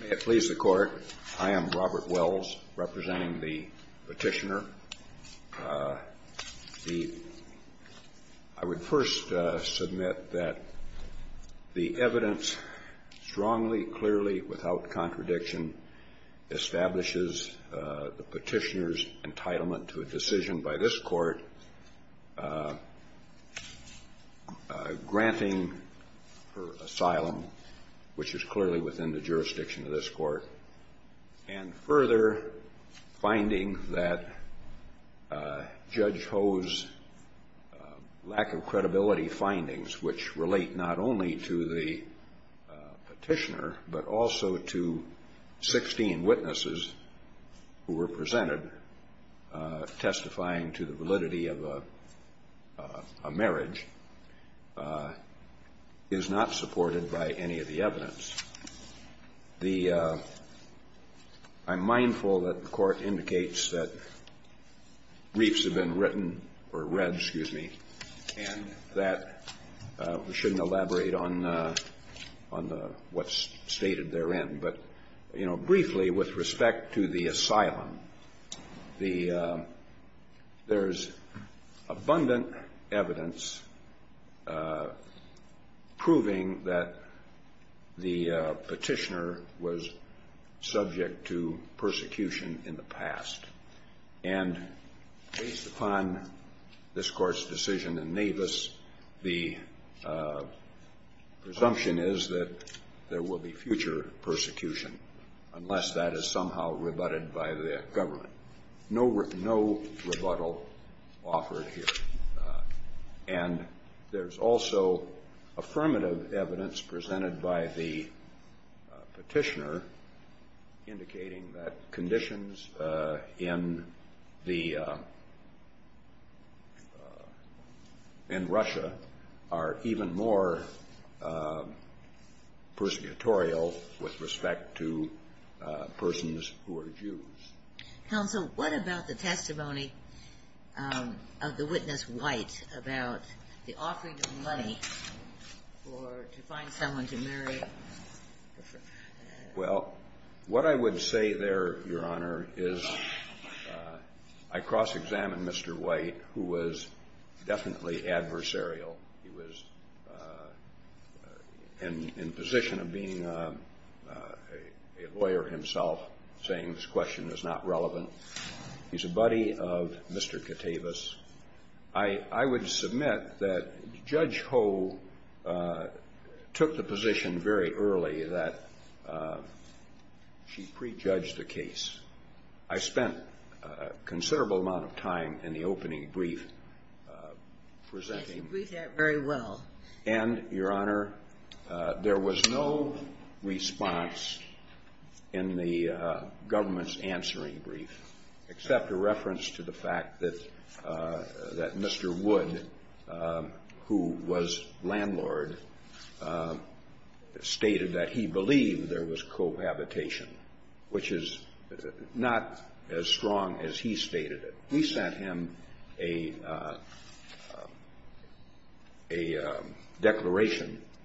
May it please the Court, I am Robert Wells, representing the Petitioner. I would first submit that the evidence strongly, clearly, without contradiction, establishes the Petitioner's validity within the jurisdiction of this Court. And further, finding that Judge Ho's lack of credibility findings, which relate not only to the Petitioner, but also to 16 witnesses who were presented to the Petitioner, testifying to the validity of a marriage, is not supported by any of the evidence. The – I'm mindful that the Court indicates that briefs have been written or read, excuse me, and that we shouldn't elaborate on the – on the – what's stated therein. But, you know, briefly, with respect to the asylum, the – there's abundant evidence proving that the Petitioner was subject to persecution in the past. And based upon this Court's decision in Navis, the presumption is that there will be future persecution unless that is somehow rebutted by the government. No – no rebuttal offered here. And there's also affirmative evidence presented by the Petitioner indicating that conditions in the – in Russia are even more persecutorial with respect to persons who are Jews. Counsel, what about the testimony of the witness White about the offering of money for – to find someone to marry? Well, what I would say there, Your Honor, is I cross-examined Mr. White, who was definitely adversarial. He was in a position of being a lawyer himself, saying this question is not relevant. He's a buddy of Mr. Katavis. I would submit that Judge Ho took the position very early that she prejudged the case. I spent a considerable amount of time in the opening brief presenting. I can read that very well. And, Your Honor, there was no response in the government's answering brief except a reference to the fact that Mr. Wood, who was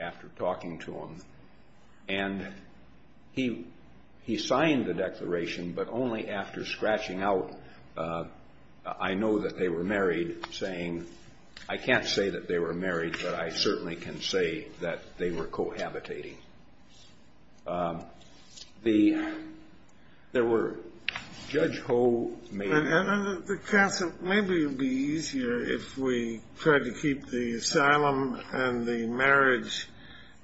after talking to him. And he – he signed the declaration, but only after scratching out, I know that they were married, saying, I can't say that they were married, but I certainly can say that they were cohabitating. The – there were – Judge Ho may have Counsel, maybe it would be easier if we tried to keep the asylum and the marriage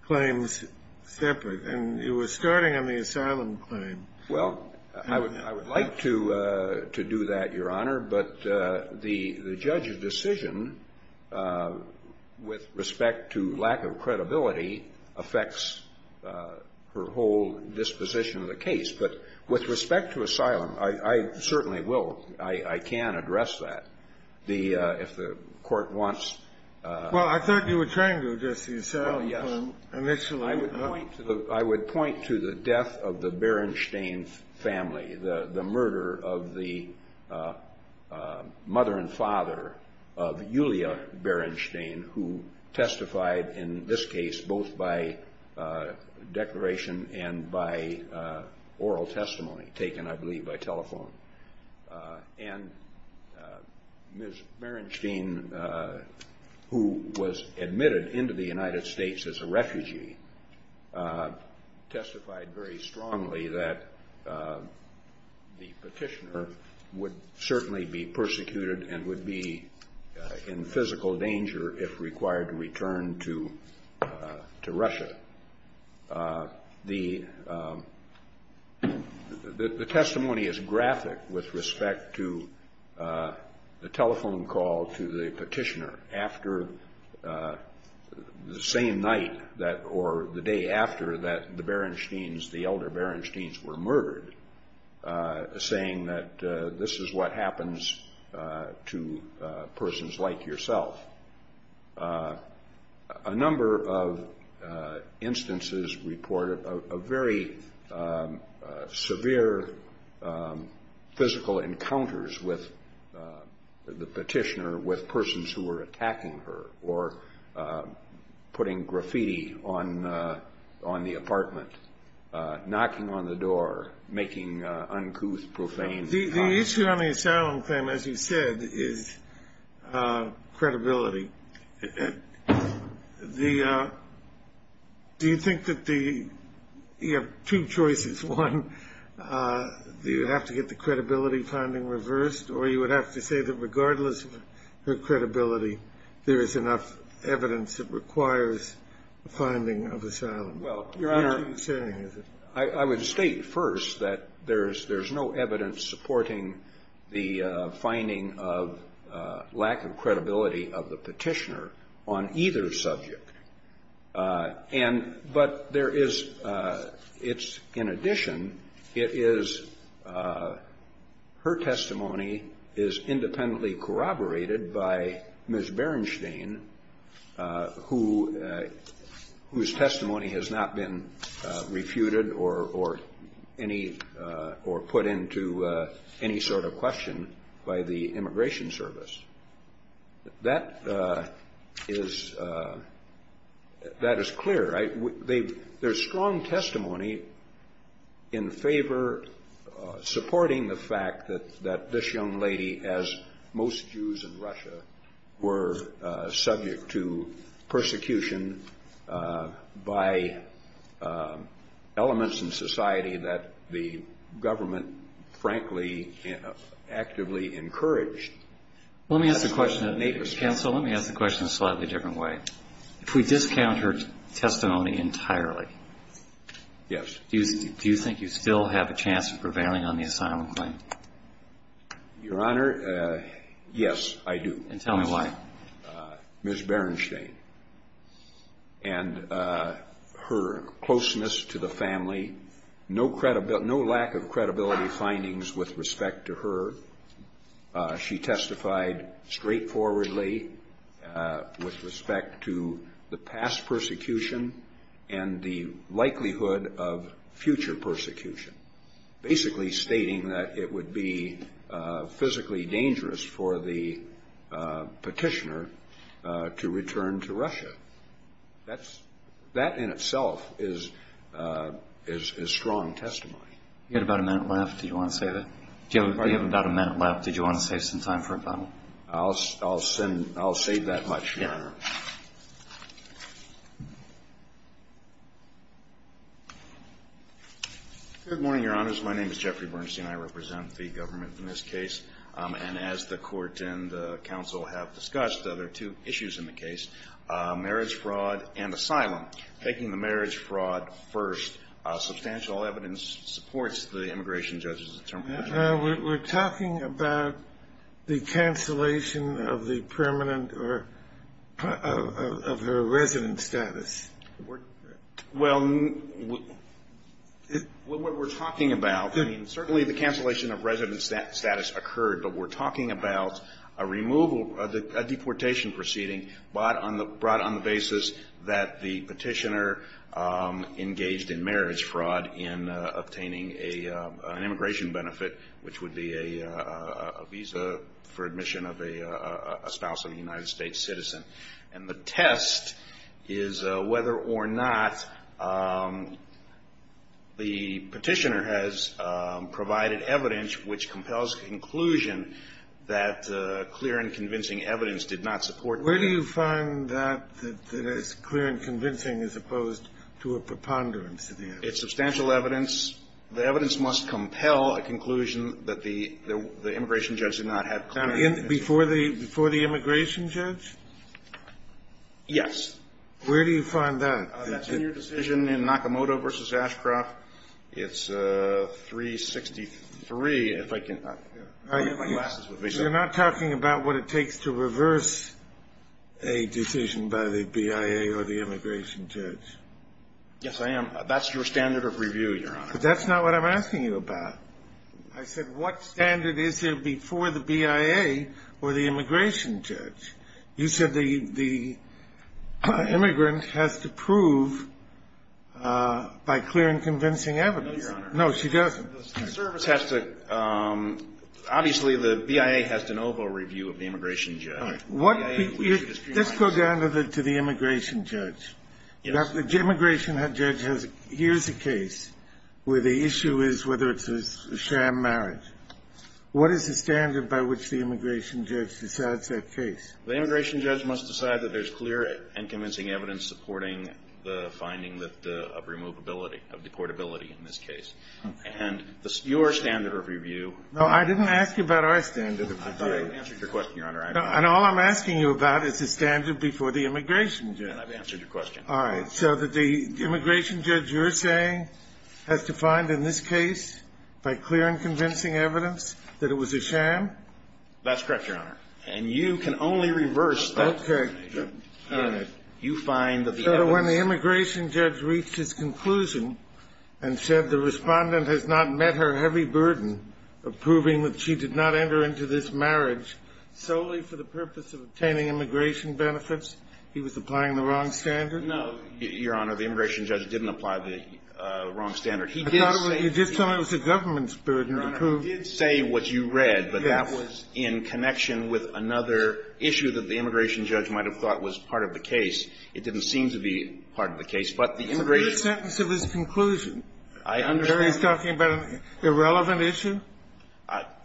claims separate. And you were starting on the asylum claim. Well, I would like to do that, Your Honor, but the judge's decision with respect to lack of credibility affects her whole disposition of the The – if the court wants – Well, I thought you were trying to address the asylum claim initially. I would point to the death of the Berenstain family, the murder of the mother and father of Yulia Berenstain, who testified in this case both by declaration and by oral testimony, taken, I believe, by telephone. And Ms. Berenstain, who was admitted into the United States as a The – the testimony is graphic with respect to the telephone call to the petitioner after the same night that – or the day after that the Berenstains, the elder Berenstains, were murdered, saying that this is what happens to persons like yourself. A number of instances reported a very severe physical encounters with the petitioner with persons who were attacking her or putting graffiti on the apartment, knocking on the door, making uncouth, profane comments. Or you would have to say that regardless of her credibility, there is enough evidence that requires a finding of asylum. Well, Your Honor, I would state first that there's no evidence supporting the finding of lack of credibility of the petitioner on either subject. And – but there is – it's – in addition, it is – her testimony is independently corroborated by Ms. Berenstain, who – whose testimony has not been That is clear. I – they've – there's strong testimony in favor – supporting the fact that this young lady, as most Jews in Russia, were subject to persecution by elements in society that the government, frankly, actively encouraged. Well, let me ask the question in a slightly different way. If we discount her testimony entirely, do you think you still have a chance of prevailing on the asylum claim? Your Honor, yes, I do. And tell me why. Ms. Berenstain. And her closeness to the family, no lack of credibility findings with respect to her. She testified straightforwardly with respect to the past persecution and the likelihood of future persecution, basically stating that it would be physically dangerous for the petitioner to return to Russia. That's – that in itself is strong testimony. You had about a minute left. Do you want to say that? I'll – I'll send – I'll say that much, Your Honor. Good morning, Your Honors. My name is Jeffrey Berenstain. I represent the government in this case. And as the court and the counsel have discussed, there are two issues in the case, marriage fraud and asylum. Taking the marriage fraud first, substantial evidence supports the immigration judge's determination. We're talking about the cancellation of the permanent or – of her resident status. Well, what we're talking about – I mean, certainly the cancellation of resident status occurred, but we're talking about a removal – a deportation proceeding brought on the basis that the petitioner engaged in marriage fraud in obtaining an immigration benefit, which would be a visa for admission of a spouse of a United States citizen. And the test is whether or not the petitioner has provided evidence which compels a conclusion that clear and convincing evidence did not support marriage fraud. Where do you find that it's clear and convincing as opposed to a preponderance of the evidence? It's substantial evidence. The evidence must compel a conclusion that the immigration judge did not have clear evidence. Before the immigration judge? Yes. Where do you find that? That's in your decision in Nakamoto v. Ashcroft. It's 363, if I can – You're not talking about what it takes to reverse a decision by the BIA or the immigration judge. Yes, I am. That's your standard of review, Your Honor. That's not what I'm asking you about. I said what standard is there before the BIA or the immigration judge? You said the immigrant has to prove by clear and convincing evidence. No, Your Honor. No, she doesn't. The service has to – obviously, the BIA has to know about review of the immigration judge. All right. The BIA – Let's go down to the immigration judge. Yes. The immigration judge has – here's a case where the issue is whether it's a sham marriage. What is the standard by which the immigration judge decides that case? The immigration judge must decide that there's clear and convincing evidence supporting the finding of removability, of deportability in this case. And your standard of review – No, I didn't ask you about our standard of review. I answered your question, Your Honor. And all I'm asking you about is the standard before the immigration judge. I've answered your question. All right. So that the immigration judge you're saying has to find in this case by clear and convincing evidence that it was a sham? That's correct, Your Honor. And you can only reverse that. Okay. You find that the evidence – So that when the immigration judge reached his conclusion and said the respondent has not met her heavy burden of proving that she did not enter into this marriage solely for the purpose of obtaining immigration benefits, he was applying the wrong standard? No, Your Honor. The immigration judge didn't apply the wrong standard. He did say – I thought it was the government's burden to prove – Your Honor, he did say what you read. Yes. But that was in connection with another issue that the immigration judge might have thought was part of the case. It didn't seem to be part of the case. But the immigration – It's a clear sentence of his conclusion. I understand. That he's talking about an irrelevant issue?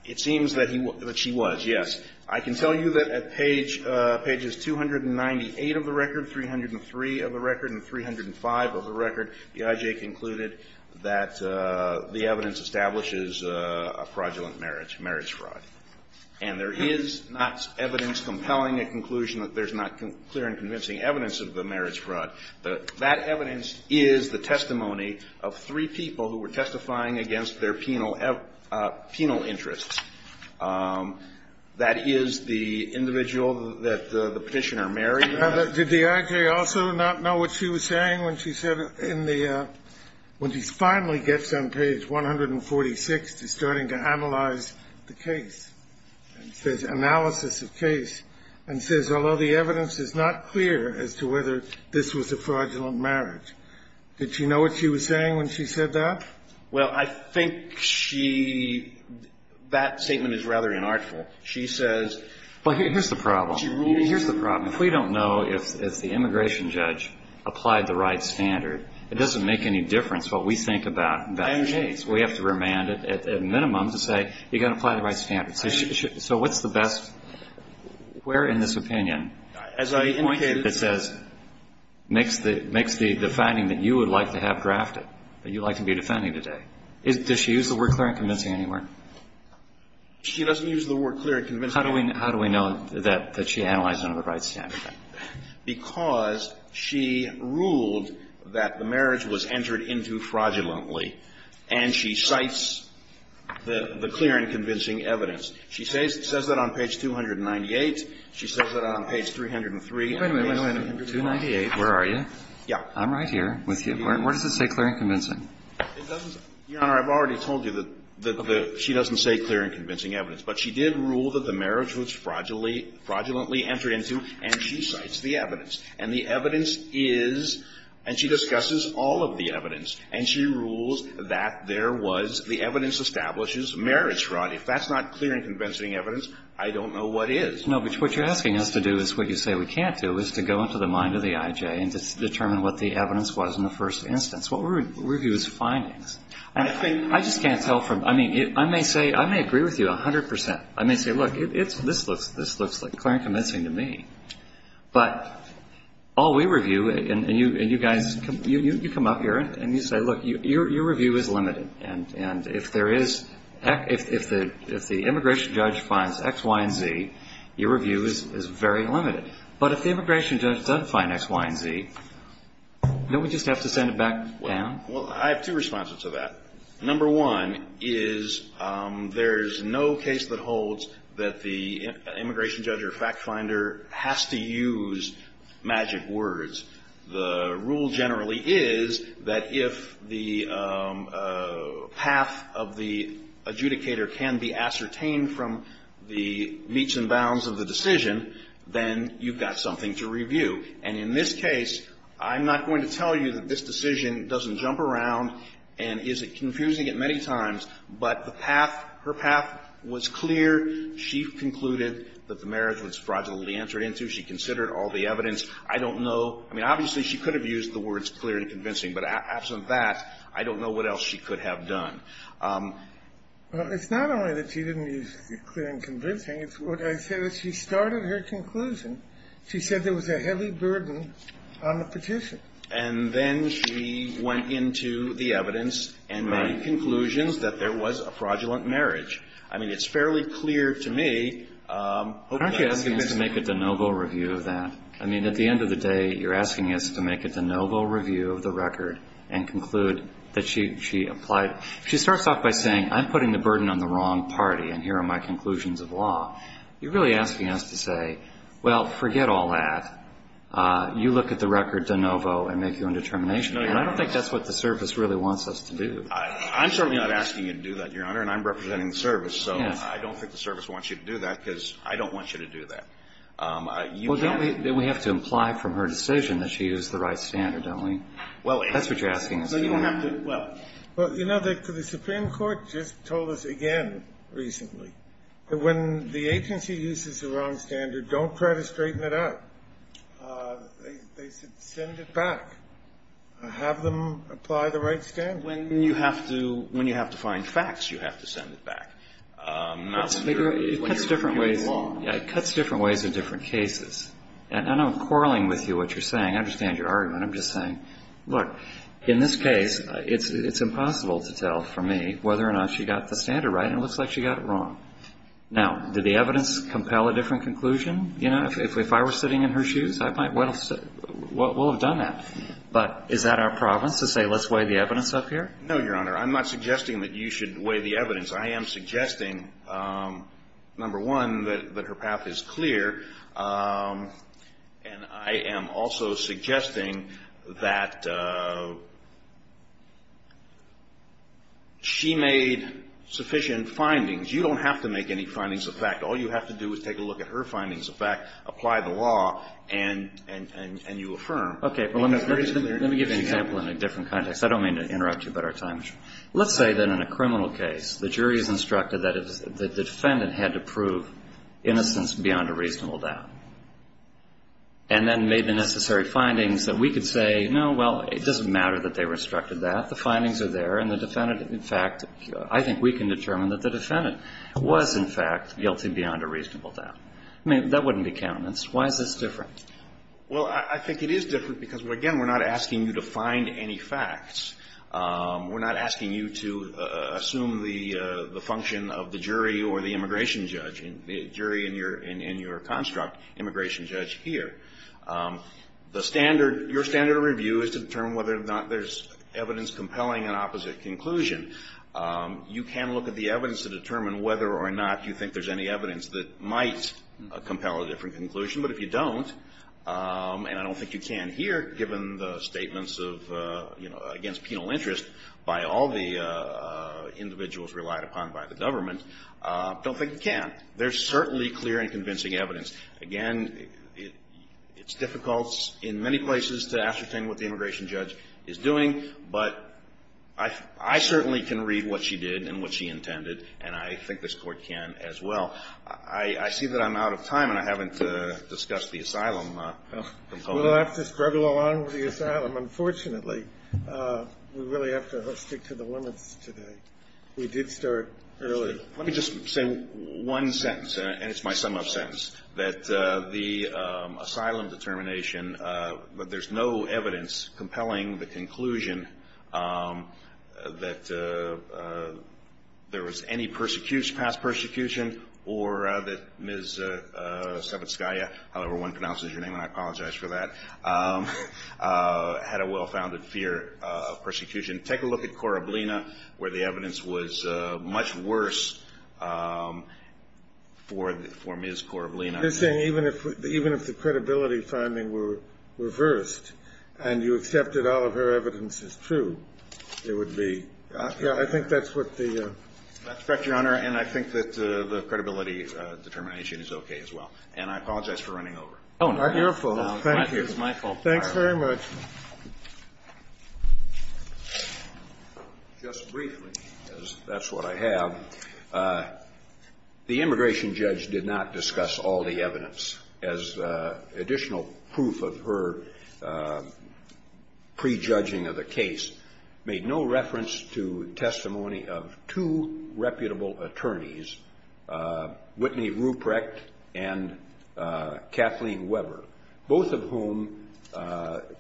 It seems that he – that she was, yes. I can tell you that at page – pages 298 of the record, 303 of the record, and 305 of the record, the IJ concluded that the evidence establishes a fraudulent marriage, marriage fraud. And there is not evidence compelling a conclusion that there's not clear and convincing evidence of the marriage fraud. That evidence is the testimony of three people who were testifying against their penal interests. That is the individual that the petitioner married. Now, did the IJ also not know what she was saying when she said in the – when she finally gets on page 146, she's starting to analyze the case and says – analysis of case and says, although the evidence is not clear as to whether this was a fraudulent marriage. Did she know what she was saying when she said that? Well, I think she – that statement is rather inartful. She says – Well, here's the problem. Here's the problem. If we don't know if the immigration judge applied the right standard, it doesn't make any difference what we think about that case. We have to remand it at minimum to say, you've got to apply the right standards. So what's the best – where in this opinion – As I indicated – That says – makes the – makes the finding that you would like to have drafted, that you'd like to be defending today. Does she use the word clear and convincing anywhere? She doesn't use the word clear and convincing. How do we – how do we know that she analyzed under the right standard? Because she ruled that the marriage was entered into fraudulently, and she cites the clear and convincing evidence. She says that on page 298. She says that on page 303. Wait a minute, wait a minute. 298, where are you? Yeah. I'm right here with you. Where does it say clear and convincing? It doesn't – Your Honor, I've already told you that she doesn't say clear and convincing evidence. But she did rule that the marriage was fraudulently entered into, and she cites the evidence. And the evidence is – and she discusses all of the evidence. And she rules that there was – the evidence establishes marriage fraud. If that's not clear and convincing evidence, I don't know what is. No, but what you're asking us to do is what you say we can't do is to go into the mind of the I.J. and determine what the evidence was in the first instance. What we review is findings. And I just can't tell from – I mean, I may say – I may agree with you 100%. I may say, look, it's – this looks like clear and convincing to me. But all we review – and you guys – you come up here and you say, look, your review is limited. And if there is – if the immigration judge finds X, Y, and Z, your review is very limited. But if the immigration judge does find X, Y, and Z, don't we just have to send it back down? Well, I have two responses to that. Number one is there's no case that holds that the immigration judge or fact finder has to use magic words. The rule generally is that if the path of the adjudicator can be ascertained from the meats and bounds of the decision, then you've got something to review. And in this case, I'm not going to tell you that this decision doesn't jump around and isn't confusing it many times. But the path – her path was clear. She concluded that the marriage was fraudulently entered into. She considered all the evidence. I don't know – I mean, obviously, she could have used the words clear and convincing. But absent that, I don't know what else she could have done. Well, it's not only that she didn't use clear and convincing. It's what I said. She started her conclusion. She said there was a heavy burden on the petition. And then she went into the evidence and made conclusions that there was a fraudulent marriage. I mean, it's fairly clear to me. Aren't you asking us to make a de novo review of that? I mean, at the end of the day, you're asking us to make a de novo review of the record and conclude that she applied. She starts off by saying, I'm putting the burden on the wrong party, and here are my conclusions of law. You're really asking us to say, well, forget all that. You look at the record de novo and make your own determination. And I don't think that's what the service really wants us to do. I'm certainly not asking you to do that, Your Honor, and I'm representing the service. So I don't think the service wants you to do that because I don't want you to do that. Well, don't we have to imply from her decision that she used the right standard, don't we? That's what you're asking us to do. Well, you know, the Supreme Court just told us again recently that when the agency uses the wrong standard, don't try to straighten it out. They should send it back. Have them apply the right standard. When you have to find facts, you have to send it back. It cuts different ways in different cases. And I'm quarreling with you, what you're saying. I understand your argument. I'm just saying, look, in this case, it's impossible to tell from me whether or not she got the standard right, and it looks like she got it wrong. Now, did the evidence compel a different conclusion? You know, if I were sitting in her shoes, I might well have done that. But is that our province to say let's weigh the evidence up here? No, Your Honor. I'm not suggesting that you should weigh the evidence. I am suggesting, number one, that her path is clear, and I am also suggesting that she made sufficient findings. You don't have to make any findings of fact. All you have to do is take a look at her findings of fact, apply the law, and you affirm. Okay. Let me give you an example in a different context. I don't mean to interrupt you, but our time is short. Let's say that in a criminal case, the jury is instructed that the defendant had to prove innocence beyond a reasonable doubt, and then made the necessary findings that we could say, no, well, it doesn't matter that they were instructed that. The findings are there, and the defendant, in fact, I think we can determine that the defendant was, in fact, guilty beyond a reasonable doubt. I mean, that wouldn't be countenance. Why is this different? Well, I think it is different because, again, we're not asking you to find any facts. We're not asking you to assume the function of the jury or the immigration judge, the jury in your construct, immigration judge here. The standard, your standard of review is to determine whether or not there's evidence compelling an opposite conclusion. You can look at the evidence to determine whether or not you think there's any evidence that might compel a different conclusion. But if you don't, and I don't think you can here, given the statements of, you know, against penal interest by all the individuals relied upon by the government, don't think you can. There's certainly clear and convincing evidence. Again, it's difficult in many places to ascertain what the immigration judge is doing, but I certainly can read what she did and what she intended, and I think this Court can as well. I see that I'm out of time and I haven't discussed the asylum component. We'll have to struggle along with the asylum. Unfortunately, we really have to stick to the limits today. We did start early. Let me just say one sentence, and it's my sum-up sentence, that the asylum determination, that there's no evidence compelling the conclusion that there was any past persecution, or that Ms. Savitskaya, however one pronounces your name, and I apologize for that, had a well-founded fear of persecution. Take a look at Korablina, where the evidence was much worse for Ms. Korablina. You're saying even if the credibility finding were reversed and you accepted all of her evidence as true, it would be? I think that's what the ---- Your Honor, and I think that the credibility determination is okay as well. And I apologize for running over. Oh, no. You're full. Thank you. It's my fault. Thanks very much. Just briefly, because that's what I have, the immigration judge did not discuss all the evidence. As additional proof of her prejudging of the case, made no reference to testimony of two reputable attorneys, Whitney Ruprecht and Kathleen Weber, both of whom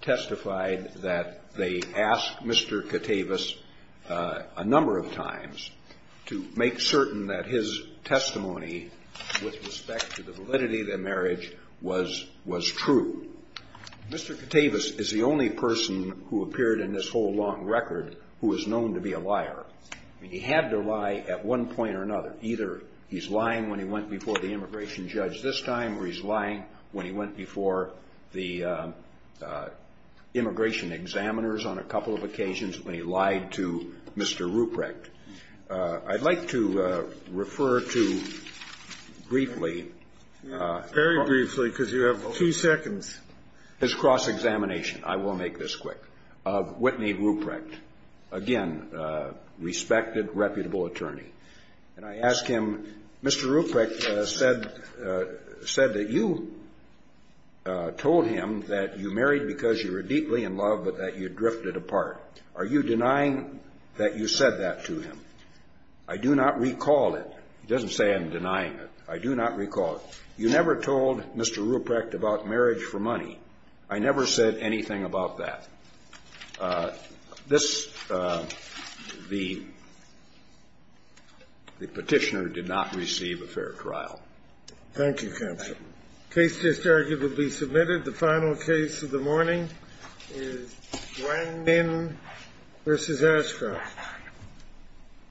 testified that they asked Mr. Katavis a number of times to make certain that his testimony, with respect to the validity of their marriage, was true. Mr. Katavis is the only person who appeared in this whole long record who is known to be a liar. He had to lie at one point or another. Either he's lying when he went before the immigration judge this time or he's lying when he went before the immigration examiners on a couple of occasions when he lied to Mr. Ruprecht. I'd like to refer to briefly ---- Very briefly, because you have two seconds. His cross-examination. I will make this quick. Whitney Ruprecht. Again, respected, reputable attorney. And I ask him, Mr. Ruprecht said that you told him that you married because you were deeply in love but that you drifted apart. Are you denying that you said that to him? I do not recall it. He doesn't say I'm denying it. I do not recall it. You never told Mr. Ruprecht about marriage for money. I never said anything about that. This, the Petitioner did not receive a fair trial. Thank you, counsel. Case just arguably submitted. The final case of the morning is Wang Min v. Ashcroft.